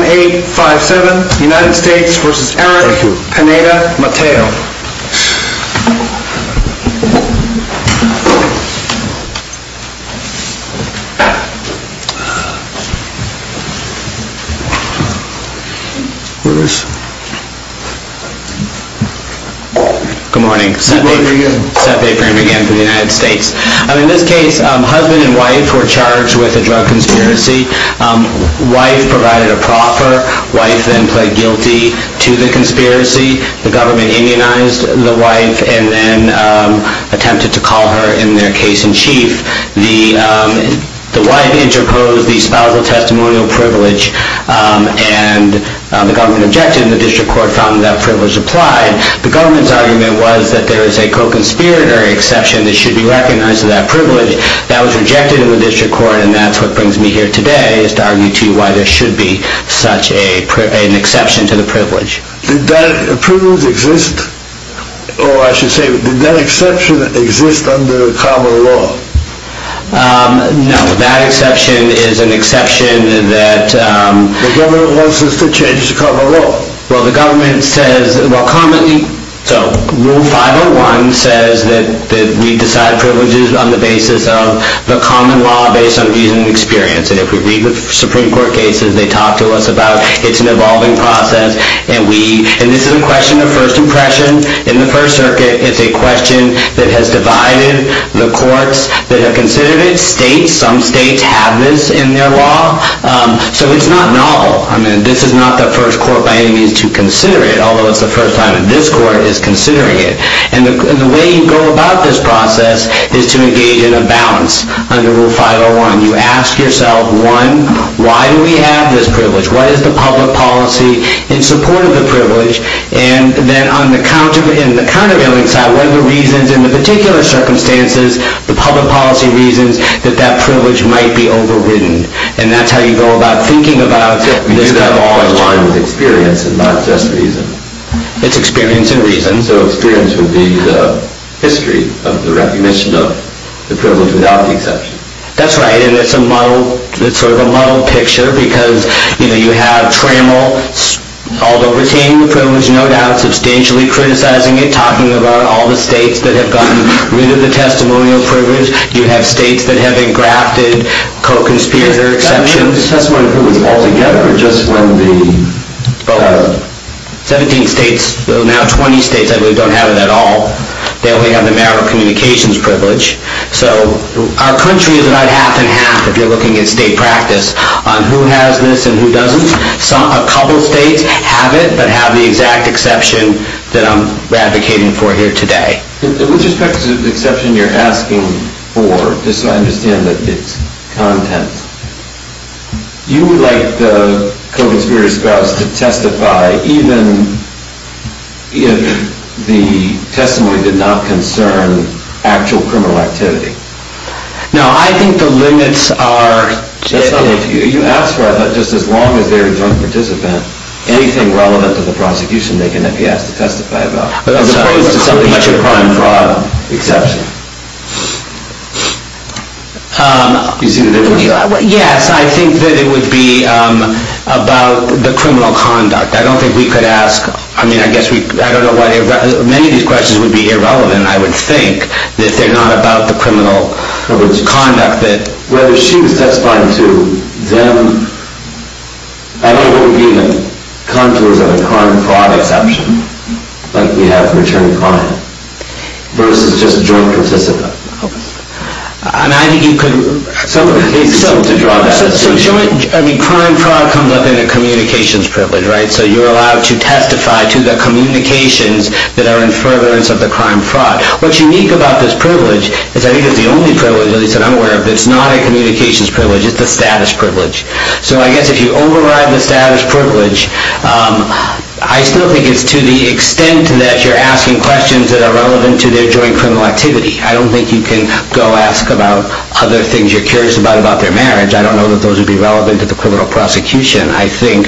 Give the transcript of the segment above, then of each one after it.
8-5-7 United States v. Eric Pineda Mateo Good morning, set paper in again for the United States In this case husband and wife were charged with a drug conspiracy Wife provided a proffer, wife then pled guilty to the conspiracy The government immunized the wife and then attempted to call her in their case in chief The wife interposed the spousal testimonial privilege and the government objected and the district court found that that privilege applied The government's argument was that there is a co-conspirator exception that should be recognized for that privilege That was rejected in the district court and that's what brings me here today is to argue to you why there should be such an exception to the privilege Did that privilege exist? Or I should say, did that exception exist under common law? No, that exception is an exception that The government wants us to change the common law Rule 501 says that we decide privileges on the basis of the common law based on reason and experience and if we read the Supreme Court cases they talk to us about it's an evolving process and this is a question of first impression in the first circuit It's a question that has divided the courts that have considered it States, some states have this in their law So it's not novel, I mean this is not the first court by any means to consider it although it's the first time that this court is considering it and the way you go about this process is to engage in a balance under Rule 501 You ask yourself, one, why do we have this privilege? What is the public policy in support of the privilege? and then on the countervailing side, what are the reasons in the particular circumstances the public policy reasons that that privilege might be overridden and that's how you go about thinking about this kind of question You do that along with experience and not just reason It's experience and reason So experience would be the history of the recognition of the privilege without the exception That's right, and it's sort of a muddled picture because you have Trammell, although retaining the privilege, no doubt substantially criticizing it talking about all the states that have gotten rid of the testimonial privilege You have states that have engrafted co-conspirator exceptions The testimonial privilege altogether or just when the... 17 states, now 20 states I believe don't have it at all They only have the marital communications privilege So our country is about half and half if you're looking at state practice on who has this and who doesn't A couple states have it but have the exact exception that I'm advocating for here today With respect to the exception you're asking for, just so I understand that it's content You would like the co-conspirator spouse to testify even if the testimony did not concern actual criminal activity No, I think the limits are... That's not what you asked for, I thought just as long as they're a joint participant anything relevant to the prosecution they can be asked to testify about As opposed to something like a crime-fraud exception Do you see the difference? Yes, I think that it would be about the criminal conduct I don't think we could ask, I mean I guess, I don't know why Many of these questions would be irrelevant I would think that they're not about the criminal conduct Well if she was testifying to them I don't know what would be the contours of a crime-fraud exception like we have for attorney-client versus just a joint participant Crime-fraud comes up in a communications privilege So you're allowed to testify to the communications that are in furtherance of the crime-fraud What's unique about this privilege is I think it's the only privilege, at least that I'm aware of that's not a communications privilege, it's a status privilege So I guess if you override the status privilege I still think it's to the extent that you're asking questions that are relevant to their joint criminal activity I don't think you can go ask about other things you're curious about about their marriage I don't know that those would be relevant to the criminal prosecution But I think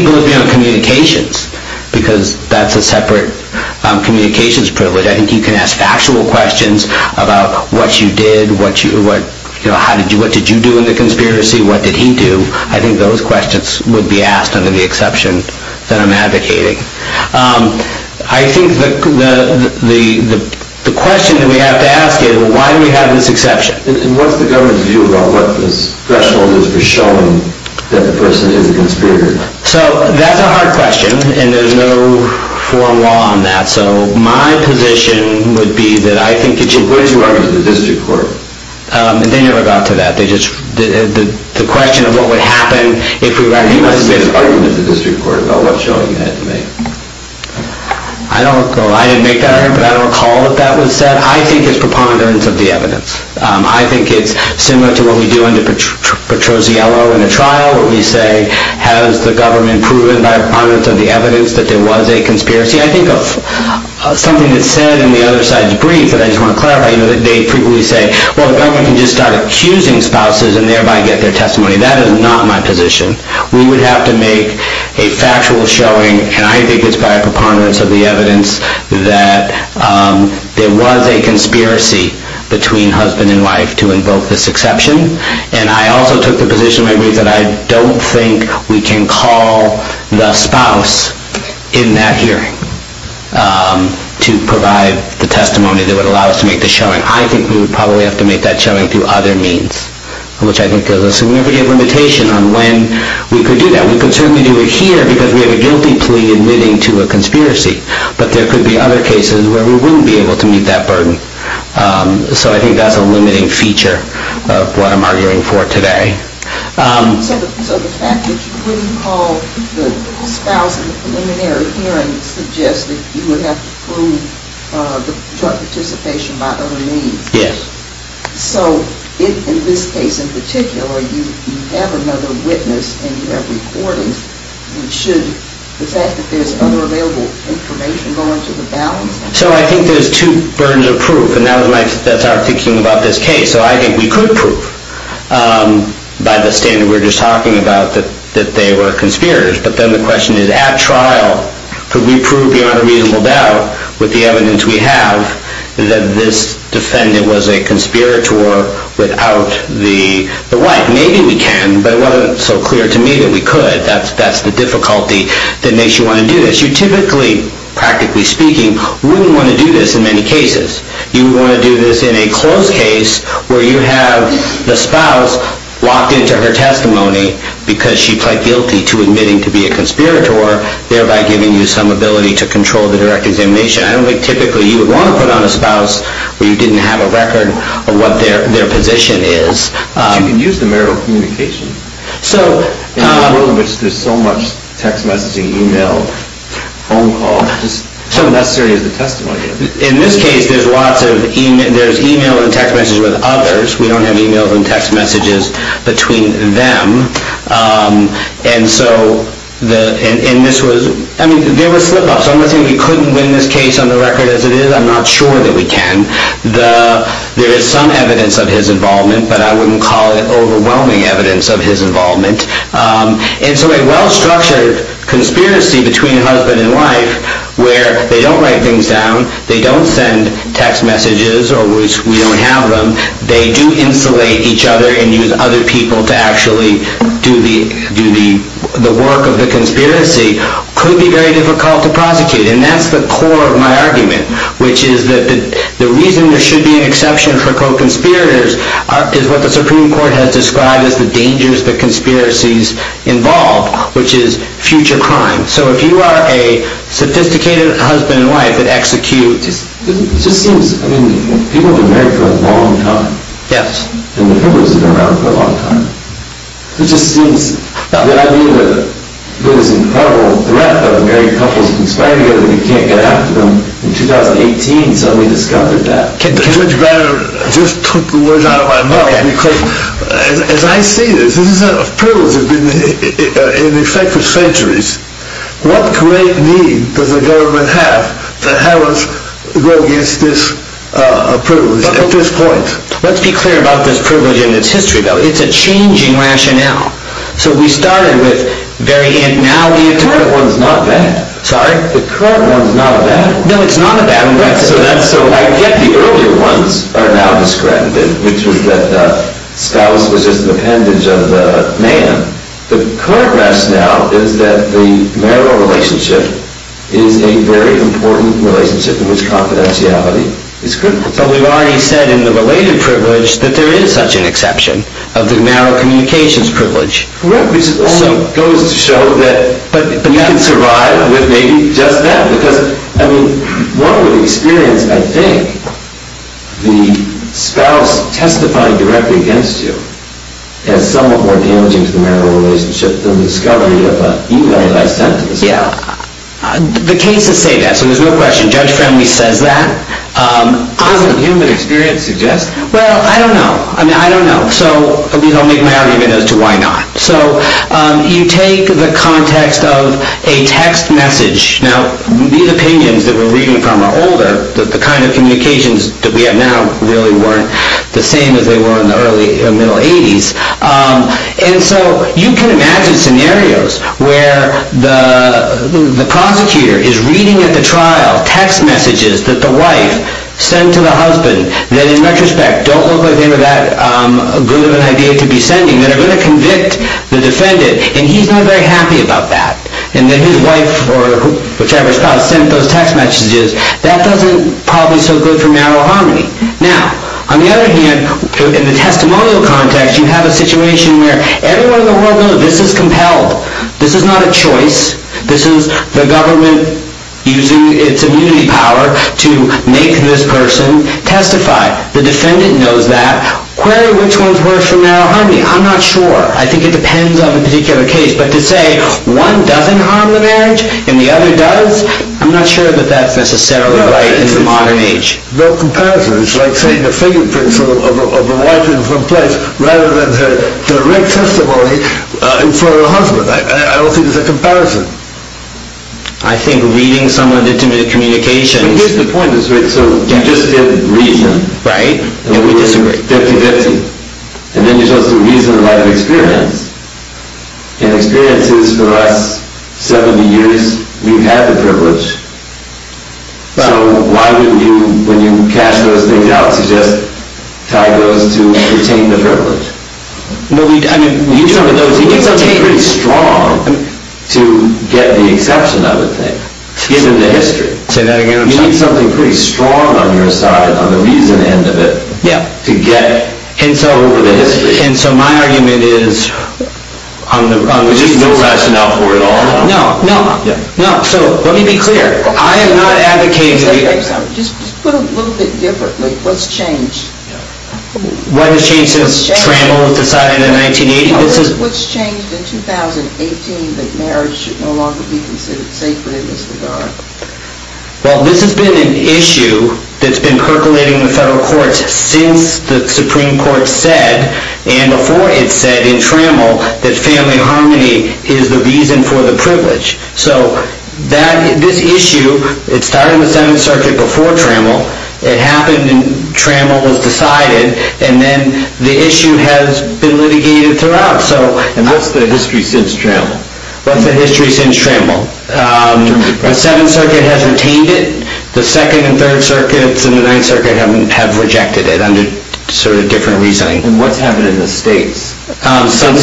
it goes beyond communications because that's a separate communications privilege I think you can ask factual questions about what you did what did you do in the conspiracy, what did he do I think those questions would be asked under the exception that I'm advocating I think the question that we have to ask is why do we have this exception? And what's the government's view about what this threshold is for showing that the person is a conspirator? So that's a hard question and there's no foreign law on that So my position would be that I think it should What did you argue to the district court? They never got to that The question of what would happen You must have made an argument to the district court about what showing you had to make I didn't make that argument but I don't recall that that was said I think it's preponderance of the evidence I think it's similar to what we do under Petrozziello in a trial where we say has the government proven by preponderance of the evidence that there was a conspiracy? I think of something that's said in the other side's brief that I just want to clarify They frequently say well the government can just start accusing spouses and thereby get their testimony That is not my position We would have to make a factual showing And I think it's by preponderance of the evidence that there was a conspiracy between husband and wife to invoke this exception And I also took the position in my brief that I don't think we can call the spouse in that hearing to provide the testimony that would allow us to make the showing I think we would probably have to make that showing through other means Which I think is a significant limitation on when we could do that We could certainly do it here because we have a guilty plea admitting to a conspiracy But there could be other cases where we wouldn't be able to meet that burden So I think that's a limiting feature of what I'm arguing for today So the fact that you wouldn't call the spouse in the preliminary hearing suggests that you would have to prove the participation by other means Yes So in this case in particular you have another witness and you have recordings Should the fact that there's other available information go into the balance? So I think there's two burdens of proof and that's how I'm thinking about this case So I think we could prove by the standard we were just talking about that they were conspirators But then the question is at trial could we prove beyond a reasonable doubt with the evidence we have that this defendant was a conspirator without the wife Maybe we can but it wasn't so clear to me that we could That's the difficulty that makes you want to do this You typically, practically speaking, wouldn't want to do this in many cases You would want to do this in a closed case where you have the spouse locked into her testimony because she pled guilty to admitting to be a conspirator thereby giving you some ability to control the direct examination I don't think typically you would want to put on a spouse where you didn't have a record of what their position is But you can use the marital communication In a world in which there's so much text messaging, email, phone calls How necessary is the testimony? In this case there's email and text messages with others We don't have emails and text messages between them There were slip-ups I'm not saying we couldn't win this case on the record as it is I'm not sure that we can There is some evidence of his involvement but I wouldn't call it overwhelming evidence of his involvement So a well-structured conspiracy between husband and wife where they don't write things down, they don't send text messages or we don't have them they do insulate each other and use other people to actually do the work of the conspiracy could be very difficult to prosecute and that's the core of my argument which is that the reason there should be an exception for co-conspirators is what the Supreme Court has described as the dangers the conspiracies involve which is future crime So if you are a sophisticated husband and wife that executes It just seems, I mean, people have been married for a long time Yes And the privilege has been around for a long time It just seems, the idea that there's this incredible threat of married couples conspiring together but you can't get after them in 2018 suddenly discovered that Judge Barron just took the words out of my mouth As I see this, this privilege has been in effect for centuries What great need does the government have to have us go against this privilege at this point? Let's be clear about this privilege and its history It's a changing rationale So we started with very... The current one's not bad Sorry? The current one's not bad No, it's not a bad one I get the earlier ones are now discredited which was that spouse was just an appendage of man The current rationale is that the marital relationship is a very important relationship in which confidentiality is critical But we've already said in the related privilege that there is such an exception of the marital communications privilege Correct, which goes to show that you can survive with maybe just that One would experience, I think, the spouse testifying directly against you as somewhat more damaging to the marital relationship than the discovery of an email that I sent to the spouse The cases say that, so there's no question Judge Friendly says that Doesn't human experience suggest that? Well, I don't know I'll make my argument as to why not You take the context of a text message Now, these opinions that we're reading from are older The kind of communications that we have now really weren't the same as they were in the early and middle 80s And so you can imagine scenarios where the prosecutor is reading at the trial text messages that the wife sent to the husband that, in retrospect, don't look like they were that good of an idea to be sending that are going to convict the defendant and he's not very happy about that and then his wife or whichever spouse sent those text messages that doesn't probably so good for marital harmony Now, on the other hand, in the testimonial context you have a situation where everyone in the world knows this is compelled This is not a choice This is the government using its immunity power to make this person testify The defendant knows that Query which ones work for marital harmony I'm not sure I think it depends on the particular case But to say one doesn't harm the marriage and the other does I'm not sure that that's necessarily right in the modern age No comparison It's like saying the fingerprints of the wife in one place rather than her direct testimony for her husband I don't think there's a comparison I think reading some of the communications Here's the point So you just did reason Right And we disagree 50-50 And then you're supposed to reason the right of experience And experience is, for us, 70 years We've had the privilege So why wouldn't you, when you cast those things out to just tie those to retain the privilege? No, I mean You need something pretty strong to get the exception, I would think given the history You need something pretty strong on your side on the reason end of it to get over the history And so my argument is There's just no rationale for it all No, no So let me be clear I am not advocating Just put it a little bit differently What's changed? What has changed since Tramble was decided in 1980? What's changed in 2018 that marriage should no longer be considered sacred in this regard? Well, this has been an issue that's been percolating in the federal courts since the Supreme Court said and before it said in Tramble that family harmony is the reason for the privilege So this issue It started in the 7th Circuit before Tramble It happened and Tramble was decided And then the issue has been litigated throughout And what's the history since Tramble? What's the history since Tramble? The 7th Circuit has retained it The 2nd and 3rd Circuits and the 9th Circuit have rejected it under sort of different reasoning And what's happened in the states since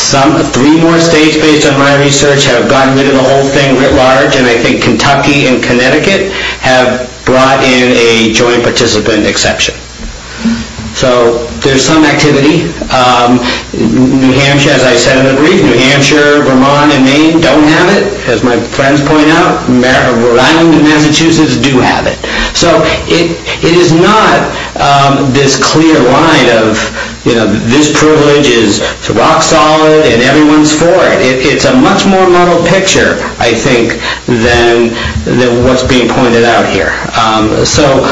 Tramble? Three more states, based on my research have gotten rid of the whole thing writ large And I think Kentucky and Connecticut have brought in a joint participant exception So there's some activity New Hampshire, as I said in the brief New Hampshire, Vermont, and Maine don't have it, as my friends point out Rhode Island and Massachusetts do have it So it is not this clear line of this privilege is rock solid and everyone's for it It's a much more muddled picture, I think than what's being pointed out here So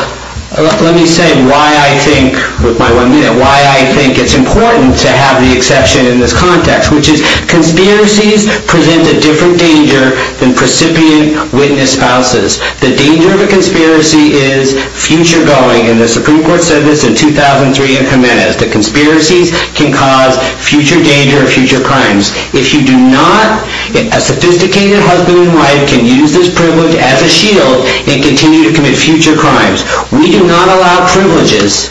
let me say why I think why I think it's important to have the exception in this context which is conspiracies present a different danger than precipient witness spouses The danger of a conspiracy is future-going and the Supreme Court said this in 2003 in Jimenez that conspiracies can cause future danger and future crimes If you do not a sophisticated husband and wife can use this privilege as a shield and continue to commit future crimes We do not allow privileges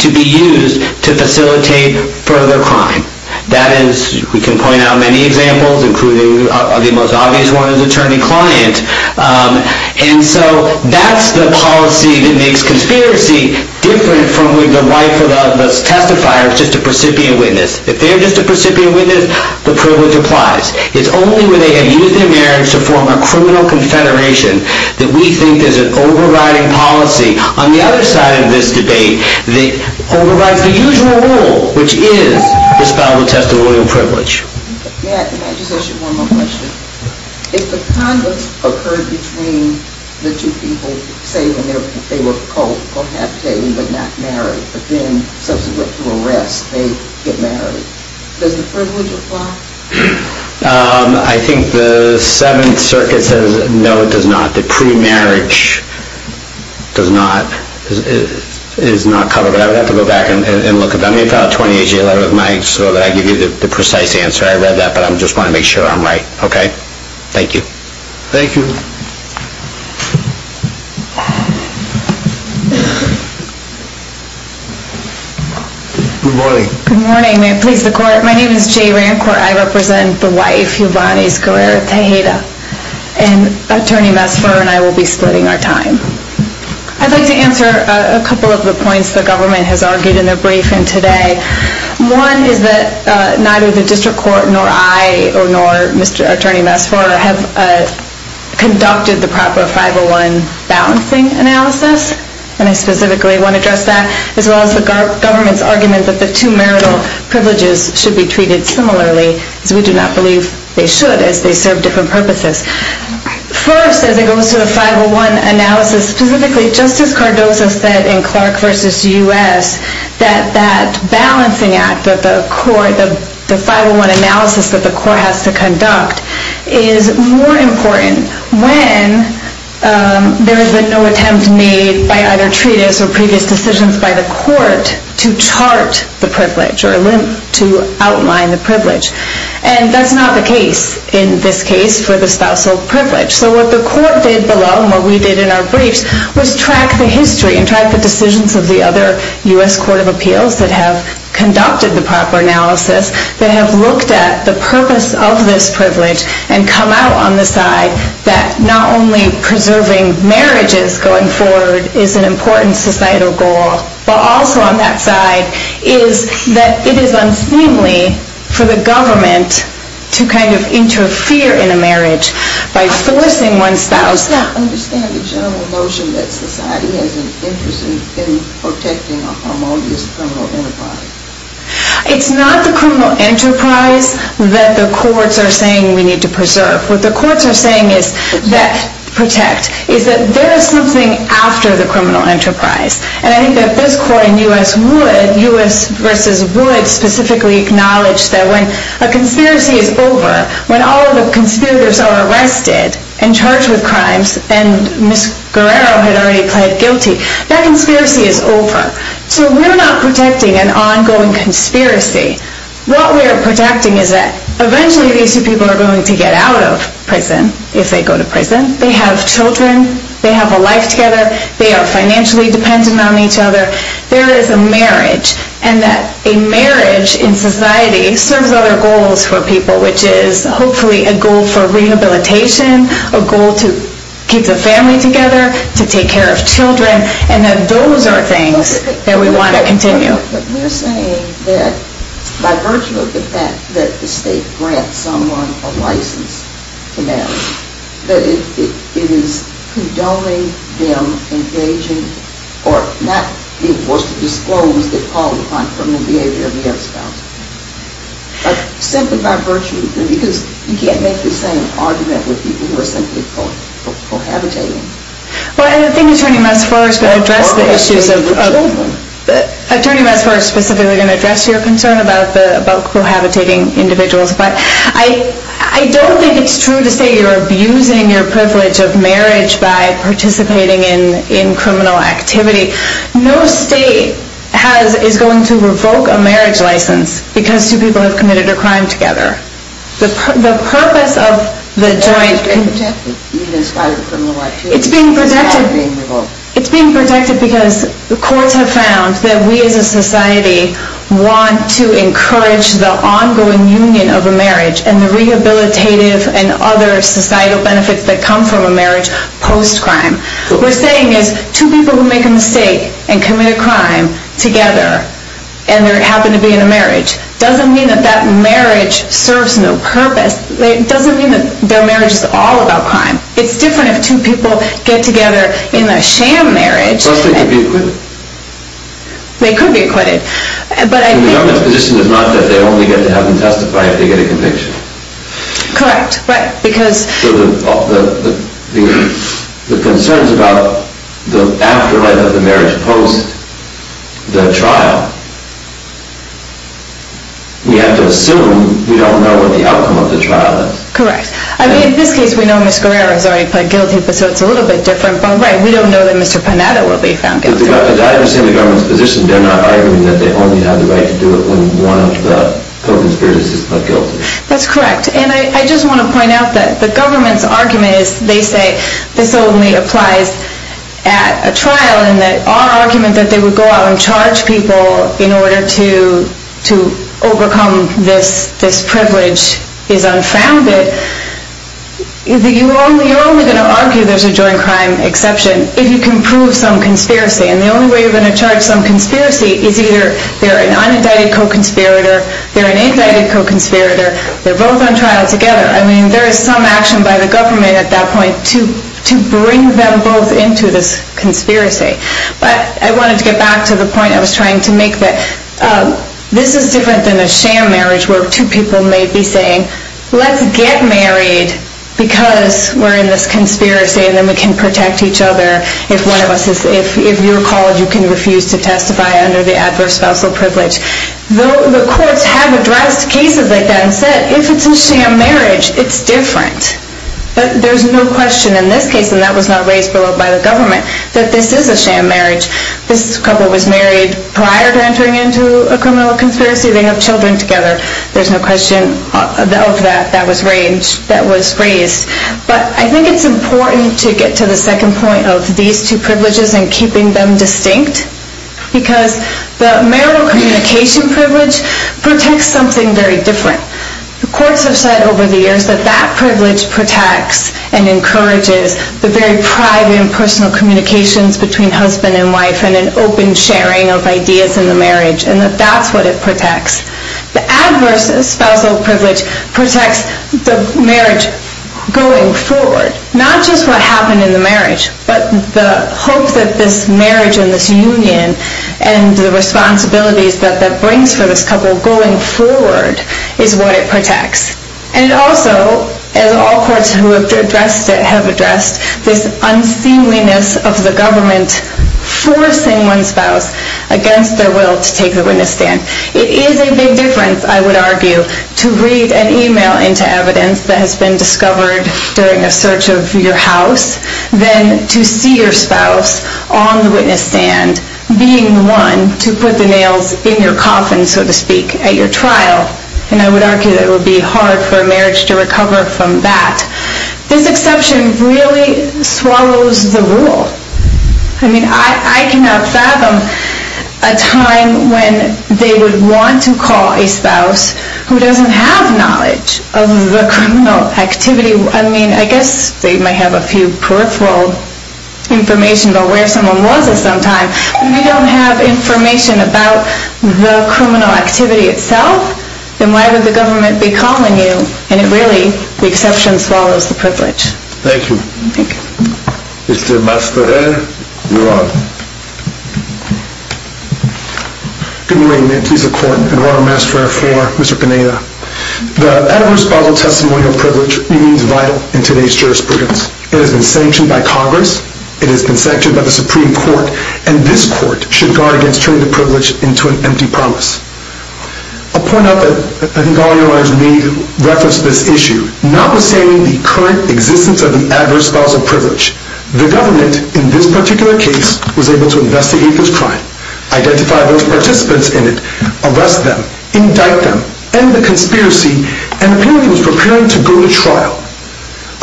to be used to facilitate further crime That is, we can point out many examples including the most obvious one is attorney-client And so that's the policy that makes conspiracy different from the right for the testifier just a precipient witness If they're just a precipient witness the privilege applies It's only when they have used their marriage to form a criminal confederation that we think there's an overriding policy on the other side of this debate that overrides the usual rule which is the spousal test of royal privilege May I just ask you one more question? If the conflict occurred between the two people say they were co-habitating but not married but then subsequent to arrest they get married does the privilege apply? I think the Seventh Circuit says no it does not the pre-marriage does not is not covered I would have to go back and look at that let me file a 28-year letter with Mike so that I can give you the precise answer I read that but I just want to make sure I'm right Thank you Thank you Good morning Good morning, may it please the court My name is Jay Rancourt I represent the wife, Yvonne Esguerra Tejeda and attorney Masfur and I will be splitting our time I'd like to answer a couple of the points the government has argued in their briefing today One is that neither the district court nor I nor attorney Masfur have conducted the proper 501 balancing analysis and I specifically want to address that as well as the government's argument that the two marital privileges should be treated similarly as we do not believe they should as they serve different purposes First, as it goes to the 501 analysis specifically, Justice Cardozo said in Clark v. U.S. that that balancing act that the court the 501 analysis that the court has to conduct is more important when there has been no attempt made by either treatise or previous decisions by the court to chart the privilege or to outline the privilege and that's not the case in this case for the spousal privilege so what the court did below and what we did in our briefs was track the history and track the decisions of the other U.S. Court of Appeals that have conducted the proper analysis that have looked at the purpose of this privilege and come out on the side that not only preserving marriages going forward is an important societal goal but also on that side is that it is unseemly for the government to kind of interfere in a marriage by forcing one's spouse to understand the general notion that society has an interest in protecting a harmonious criminal enterprise it's not the criminal enterprise that the courts are saying we need to preserve what the courts are saying is that there is something after the criminal enterprise and I think that this court in U.S. v. Wood specifically acknowledged that when a conspiracy is over when all the conspirators are arrested and charged with crimes and Ms. Guerrero had already pled guilty that conspiracy is over so we're not protecting an ongoing conspiracy what we're protecting is that eventually these two people are going to get out of prison if they go to prison they have children they have a life together they are financially dependent on each other there is a marriage and that a marriage in society serves other goals for people which is hopefully a goal for rehabilitation a goal to keep the family together to take care of children and that those are things that we want to continue we're saying that by virtue of the fact that the state grants someone a license to marry that it is condoning them engaging or not being forced to disclose their polypond from the behavior of the other spouse simply by virtue because you can't make the same argument with people who are simply cohabitating I think Attorney Massafor is going to address the issues Attorney Massafor is specifically going to address your concern about cohabitating individuals but I don't think it's true to say you're abusing your privilege of marriage by participating in criminal activity no state is going to revoke a marriage license because two people have committed a crime together the purpose of the joint it's being protected it's being protected because the courts have found that we as a society want to encourage the ongoing union of a marriage and the rehabilitative and other societal benefits that come from a marriage post crime what we're saying is two people who make a mistake and commit a crime together and they happen to be in a marriage doesn't mean that that marriage serves no purpose it doesn't mean that their marriage is all about crime it's different if two people get together in a sham marriage they could be acquitted the government's position is not that they only get to have them testify if they get a conviction correct the concerns about the afterlife of the marriage post the trial we have to assume we don't know what the outcome of the trial is in this case we know Ms. Guerrero has already pled guilty so it's a little bit different we don't know that Mr. Panetta will be found guilty I understand the government's position they're not arguing that they only have the right to do it if one of the co-conspirators is not guilty that's correct and I just want to point out that the government's argument is they say this only applies at a trial and our argument that they would go out and charge people in order to overcome this privilege is unfounded you're only going to argue there's a joint crime exception if you can prove some conspiracy and the only way you're going to charge some conspiracy is either they're an unindicted co-conspirator they're an indicted co-conspirator they're both on trial together there is some action by the government at that point to bring them both into this conspiracy but I wanted to get back to the point I was trying to make this is different than a sham marriage where two people may be saying let's get married because we're in this conspiracy and then we can protect each other if you're called you can refuse to testify under the adverse spousal privilege the courts have addressed cases like that and said if it's a sham marriage it's different there's no question in this case and that was not raised by the government that this is a sham marriage this couple was married prior to entering into a criminal conspiracy they have children together there's no question of that that was raised but I think it's important to get to the second point of these two privileges and keeping them distinct because the marital communication privilege protects something very different the courts have said over the years that that privilege protects and encourages the very private and personal communications between husband and wife and an open sharing of ideas in the marriage and that's what it protects the adverse spousal privilege protects the marriage going forward not just what happened in the marriage but the hope that this marriage and this union and the responsibilities that that brings for this couple going forward is what it protects and also as all courts have addressed this unseemliness of the government forcing one's spouse against their will to take the witness stand it is a big difference I would argue to read an email into evidence that has been discovered during a search of your house than to see your spouse on the witness stand being the one to put the nails in your coffin so to speak at your trial and I would argue that it would be hard for a marriage to recover from that this exception really swallows the rule I mean I cannot fathom a time when they would want to call a spouse who doesn't have knowledge of the criminal activity I mean I guess they might have a few peripheral information about where someone was at some time but if they don't have information about the criminal activity itself then why would the government be calling you and really the exception swallows the privilege Thank you Mr. Masparell you are good morning good morning Mr. Masparell for Mr. Pineda the adverse spousal testimonial privilege remains vital in today's jurisprudence it has been sanctioned by congress it has been sanctioned by the supreme court and this court should guard against turning the privilege into an empty promise I'll point out that I think all of you may have referenced this issue notwithstanding the current existence of the adverse spousal privilege the government in this particular case was able to investigate this crime identify those participants in it arrest them indict them end the conspiracy and was preparing to go to trial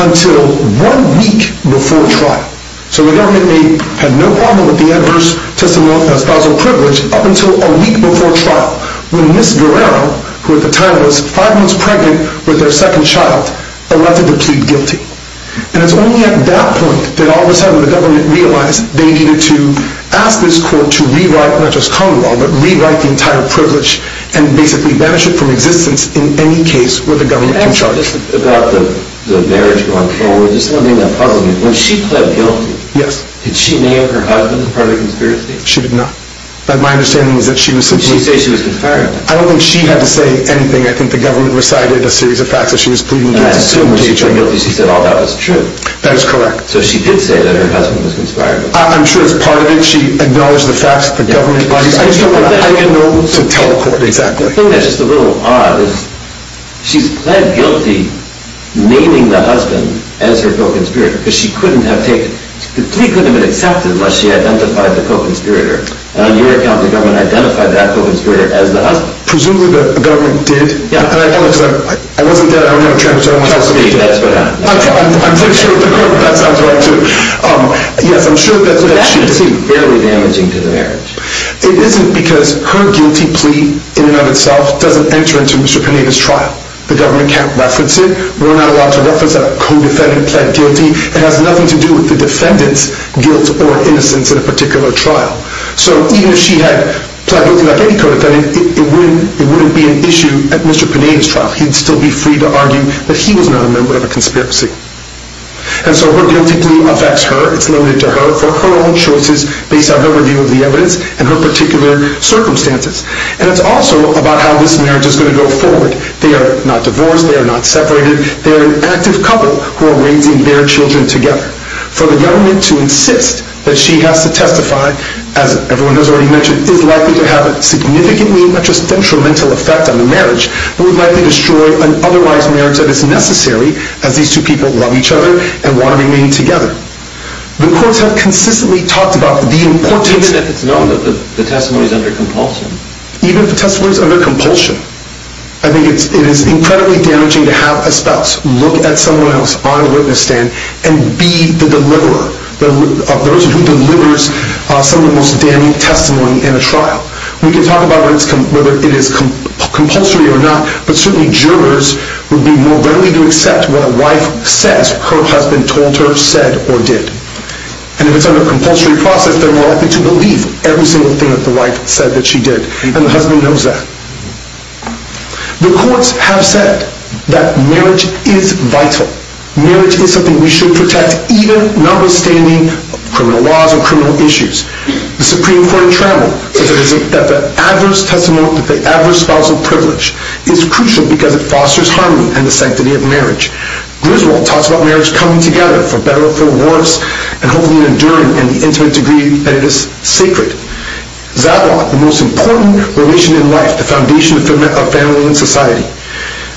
until one week before trial so the government had no problem with the adverse spousal privilege up until a week before trial when Ms. Guerrero who at the time was five months pregnant with their second child elected to plead guilty and it's only at that point that all of a sudden the government realized they needed to ask this court to rewrite, not just common law but rewrite the entire privilege and basically banish it from existence in any case where the government can charge about the marriage going forward there's something that puzzles me when she pled guilty did she name her husband as part of the conspiracy? she did not I don't think she had to say anything I think the government recited a series of facts that she was pleading guilty to she said all that was true so she did say that her husband was conspired with I'm sure it's part of it she acknowledged the facts that the government I don't know to tell the court exactly the thing that's just a little odd is she's pled guilty naming the husband as her co-conspirator because she couldn't have taken the plea couldn't have been accepted unless she identified the co-conspirator and on your account the government identified that co-conspirator as the husband presumably the government did I wasn't there, I don't know I'm pretty sure that sounds right too yes I'm sure that's what she did that seems fairly damaging to the marriage it isn't because her guilty plea in and of itself doesn't enter into Mr. Panetta's trial the government can't reference it we're not allowed to reference that a co-defendant pled guilty it has nothing to do with the defendant's guilt or innocence in a particular trial so even if she had pled guilty like any co-defendant it wouldn't be an issue at Mr. Panetta's trial he'd still be free to argue that he was not a member of a conspiracy and so her guilty plea affects her it's limited to her for her own choices based on her view of the evidence and her particular circumstances and it's also about how this marriage is going to go forward they are not divorced they are not separated they are an active couple who are raising their children together for the government to insist that she has to testify as everyone has already mentioned is likely to have a significantly not just detrimental effect on the marriage but would likely destroy an otherwise marriage that is necessary as these two people love each other and want to remain together the courts have consistently talked about the importance even if it's known that the testimony is under compulsion even if the testimony is under compulsion I think it is incredibly damaging to have a spouse look at someone else on a witness stand and be the deliverer of those who delivers some of the most damning testimony in a trial we can talk about whether it is compulsory or not but certainly jurors would be more readily to accept what a wife says her husband told her said or did and if it's under a compulsory process they are more likely to believe every single thing that the wife said that she did and the husband knows that the courts have said that marriage is vital marriage is something we should protect even notwithstanding criminal laws or criminal issues the supreme court in travel that the adverse testimony that the adverse spousal privilege is crucial because it fosters harmony and the sanctity of marriage Griswold talks about marriage coming together for better or for worse and hopefully enduring in the intimate degree that it is sacred Zadlock, the most important relation in life, the foundation of family and society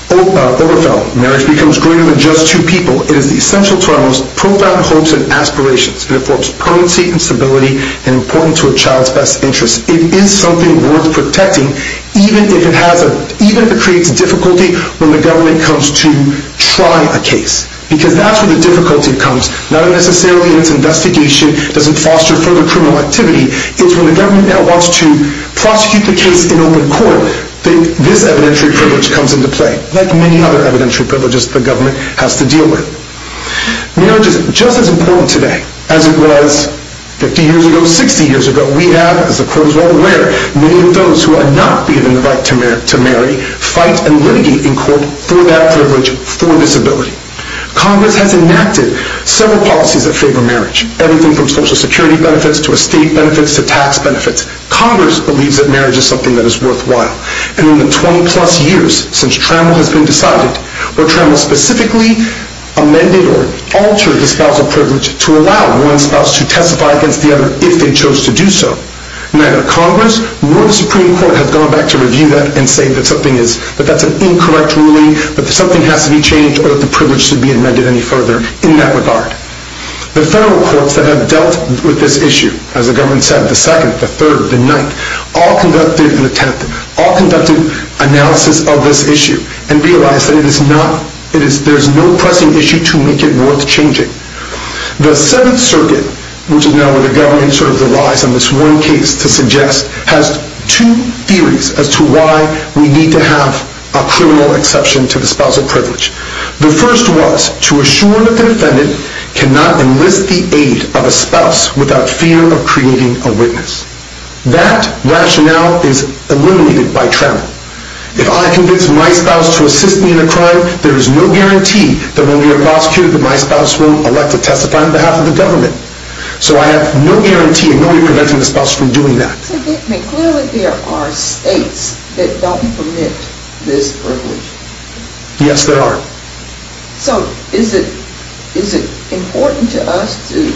Oberfeld, marriage becomes greater than just two people it is essential to our most profound hopes and aspirations it affords prudency and stability and importance to a child's best interests it is something worth protecting even if it creates difficulty when the government comes to try a case because that's where the difficulty comes not necessarily in its investigation doesn't foster further criminal activity it's when the government now wants to prosecute the case in open court that this evidentiary privilege comes into play like many other evidentiary privileges the government has to deal with marriage is just as important today as it was 50 years ago, 60 years ago we have, as the court is well aware many of those who are not given the right to marry fight and litigate for that privilege, for disability congress has enacted several policies that favor marriage everything from social security benefits to estate benefits, to tax benefits congress believes that marriage is something that is worthwhile and in the 20 plus years since Trammell has been decided where Trammell specifically amended or altered the spousal privilege to allow one spouse to testify against the other if they chose to do so neither congress nor the supreme court has gone back to review that and say that that's an incorrect ruling that something has to be changed or that the privilege should be amended any further in that regard the federal courts that have dealt with this issue as the government said, the 2nd, the 3rd, the 9th all conducted an analysis of this issue and realized that there is no pressing issue to make it worth changing the 7th circuit which is now where the government relies on this one case to suggest has two theories as to why we need to have a criminal exception to the spousal privilege the first was to assure that the defendant cannot enlist the aid of a spouse without fear of creating a witness that rationale is eliminated by Trammell if I convince my spouse to assist me in a crime there is no guarantee that when we are prosecuted that my spouse will elect to testify on behalf of the government so I have no guarantee of preventing the spouse from doing that clearly there are states that don't permit this privilege yes there are so is it important to us to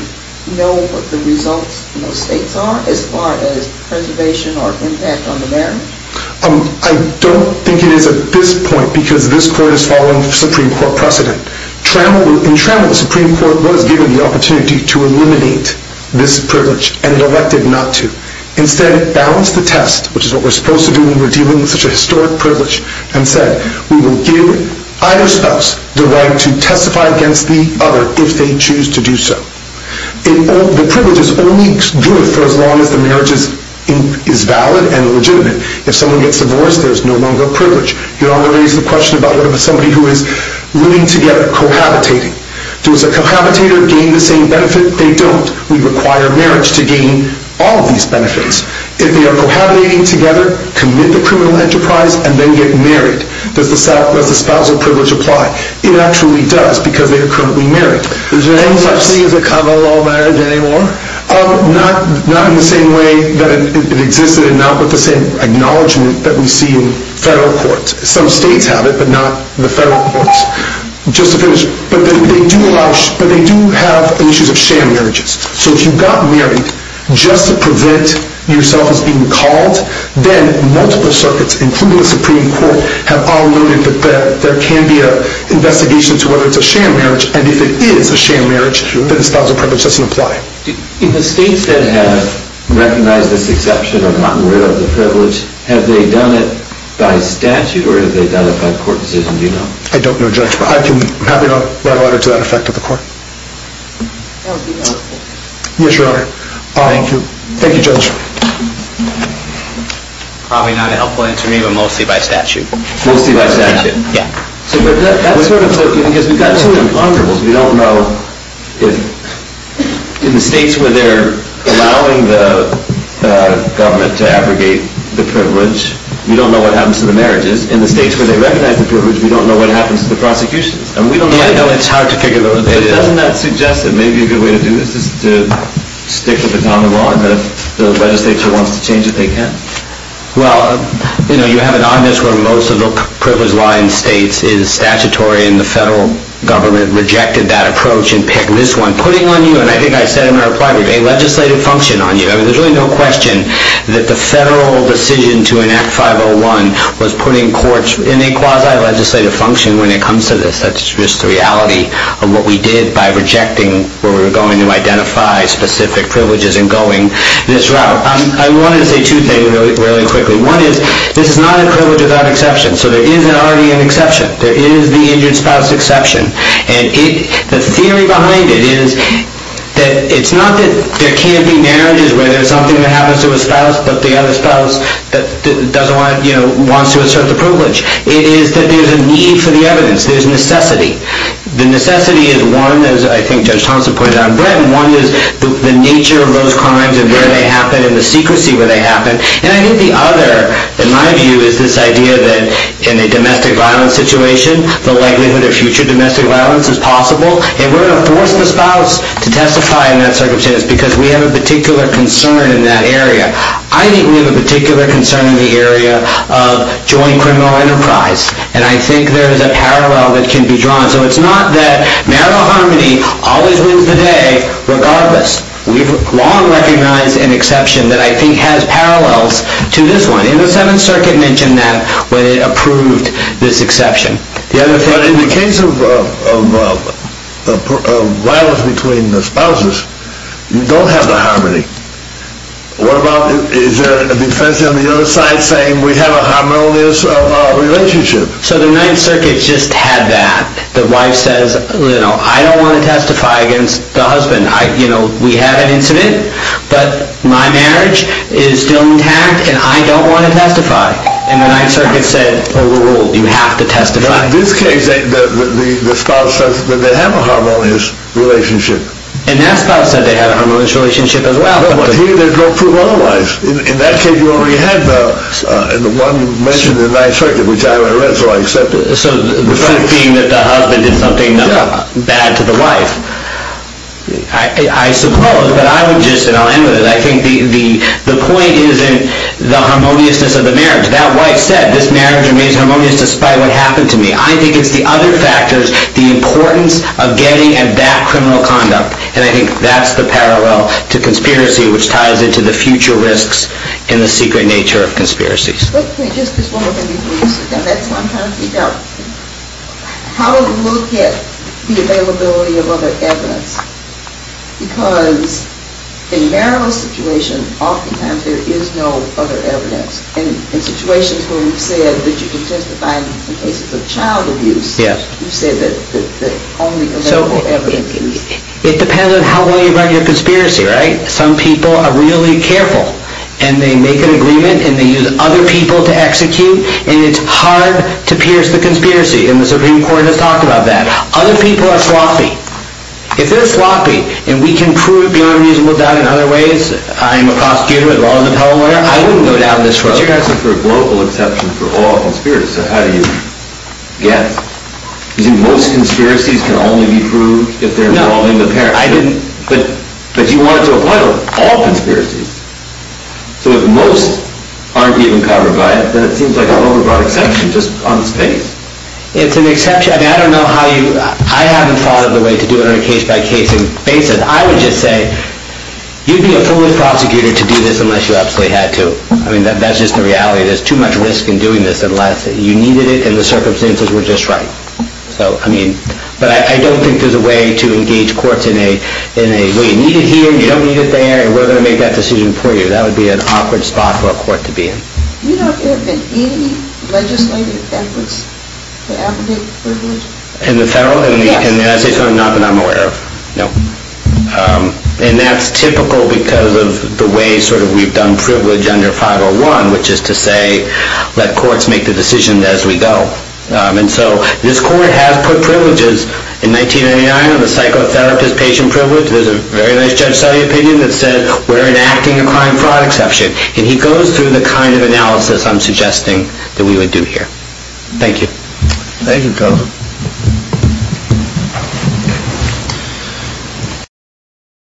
know what the results of those states are as far as preservation or impact on the marriage I don't think it is at this point because this court is following Supreme Court precedent in Trammell the Supreme Court was given the opportunity to eliminate this privilege and it elected not to instead it balanced the test which is what we are supposed to do when we are dealing with such a historic privilege and said we will give either spouse the right to choose to do so the privilege is only good for as long as the marriage is valid and legitimate if someone gets divorced there is no longer a privilege you are not going to raise the question about whether somebody is willing to get cohabitating does a cohabitator gain the same benefit they don't we require marriage to gain all of these benefits if they are cohabitating together commit the criminal enterprise and then get married does the spousal privilege apply it actually does because they are currently married does it cover all marriage anymore not in the same way that it existed and not with the same acknowledgement that we see in federal courts some states have it but not the federal courts just to finish but they do have issues of sham marriages so if you got married just to prevent yourself from being called then multiple circuits including the Supreme Court have all alluded that there can be an investigation to whether it is a sham marriage and if it is a sham marriage then the spousal privilege doesn't apply in the states that have recognized this exception of the privilege have they done it by statute or by court decision I don't know judge but I can write a letter to the court yes your honor thank you judge probably not a helpful answer to me but mostly by statute mostly by statute we don't know if in the states where they are allowing the government to abrogate the privilege we don't know what happens to the marriages in the states where they recognize the privilege we don't know what happens to the prosecutions I know it is hard to figure that out doesn't that suggest that maybe a good way to do this is to stick with the common law and if the legislature wants to change it they can you have an onus where most of the privilege law in states is statutory and the federal government rejected that approach and picked this one putting on you, and I think I said in my reply a legislative function on you there is really no question that the federal decision to enact 501 was putting courts in a quasi legislative function when it comes to this that is just the reality of what we did by rejecting where we were going to identify specific privileges in going this route I wanted to say two things really quickly, one is this is not a privilege without exception so there is already an exception there is the injured spouse exception and the theory behind it is that it is not that there can't be marriages where there is something that happens to a spouse but the other spouse wants to assert the privilege it is that there is a need for the evidence, there is necessity the necessity is one one is the nature of those crimes and where they happen and the secrecy where they happen and I think the other in my view is this idea that in a domestic violence situation the likelihood of future domestic violence is possible and we are going to force the spouse to testify in that circumstance because we have a particular concern in that area I think we have a particular concern in the area of joint criminal enterprise and I think there is a parallel that can be drawn so it is not that marital harmony always wins the day regardless, we have long recognized an exception that I think has parallels to this one, and the 7th circuit mentioned that when it approved this exception but in the case of violence between the spouses you don't have the harmony what about, is there a defense on the other side saying we have a harmonious relationship so the 9th circuit just had that the wife says I don't want to testify against the husband we had an incident but my marriage is still intact and I don't want to testify and the 9th circuit said overruled, you have to testify in this case the spouse says that they have a harmonious relationship and that spouse said they have a harmonious relationship as well here they don't prove otherwise in that case you already had the one mentioned in the 9th circuit which I read so I accept it so the proof being that the husband did something bad to the wife I suppose but I would just, and I'll end with it I think the point is in the harmoniousness of the marriage that wife said this marriage remains harmonious despite what happened to me I think it's the other factors, the importance of getting at that criminal conduct and I think that's the parallel to conspiracy which ties into the future the risks and the secret nature of conspiracies that's what I'm trying to figure out how do we look at the availability of other evidence because in marital situations often times there is no other evidence in situations where you said that you can testify in cases of child abuse you said that only available evidence it depends on how well you run your conspiracy some people are really careful and they make an agreement and they use other people to execute and it's hard to pierce the conspiracy and the Supreme Court has talked about that other people are sloppy if they're sloppy and we can prove beyond reasonable doubt in other ways I'm a prosecutor, a law and appellate lawyer I wouldn't go down this road but you guys are for a global exception for all conspirators so how do you guess do you think most conspiracies can only be proved if they're involving the parents but you wanted to avoid all conspiracies so if most aren't even covered by it then it seems like an over broad exception just on space I haven't thought of a way to do it on a case by case basis I would just say you'd be a foolish prosecutor to do this unless you absolutely had to that's just the reality there's too much risk in doing this you needed it and the circumstances were just right but I don't think there's a way to engage courts you need it here, you don't need it there and we're going to make that decision for you that would be an awkward spot for a court to be in do you know if there have been any legislative efforts to abdicate the privilege? in the federal? yes and that's typical because of the way we've done privilege under 501 which is to say let courts make the decision as we go and so this court has put privileges in 1999 on the psychotherapist patient privilege there's a very nice judge selling opinion that says we're enacting a crime fraud exception and he goes through the kind of analysis I'm suggesting that we would do here thank you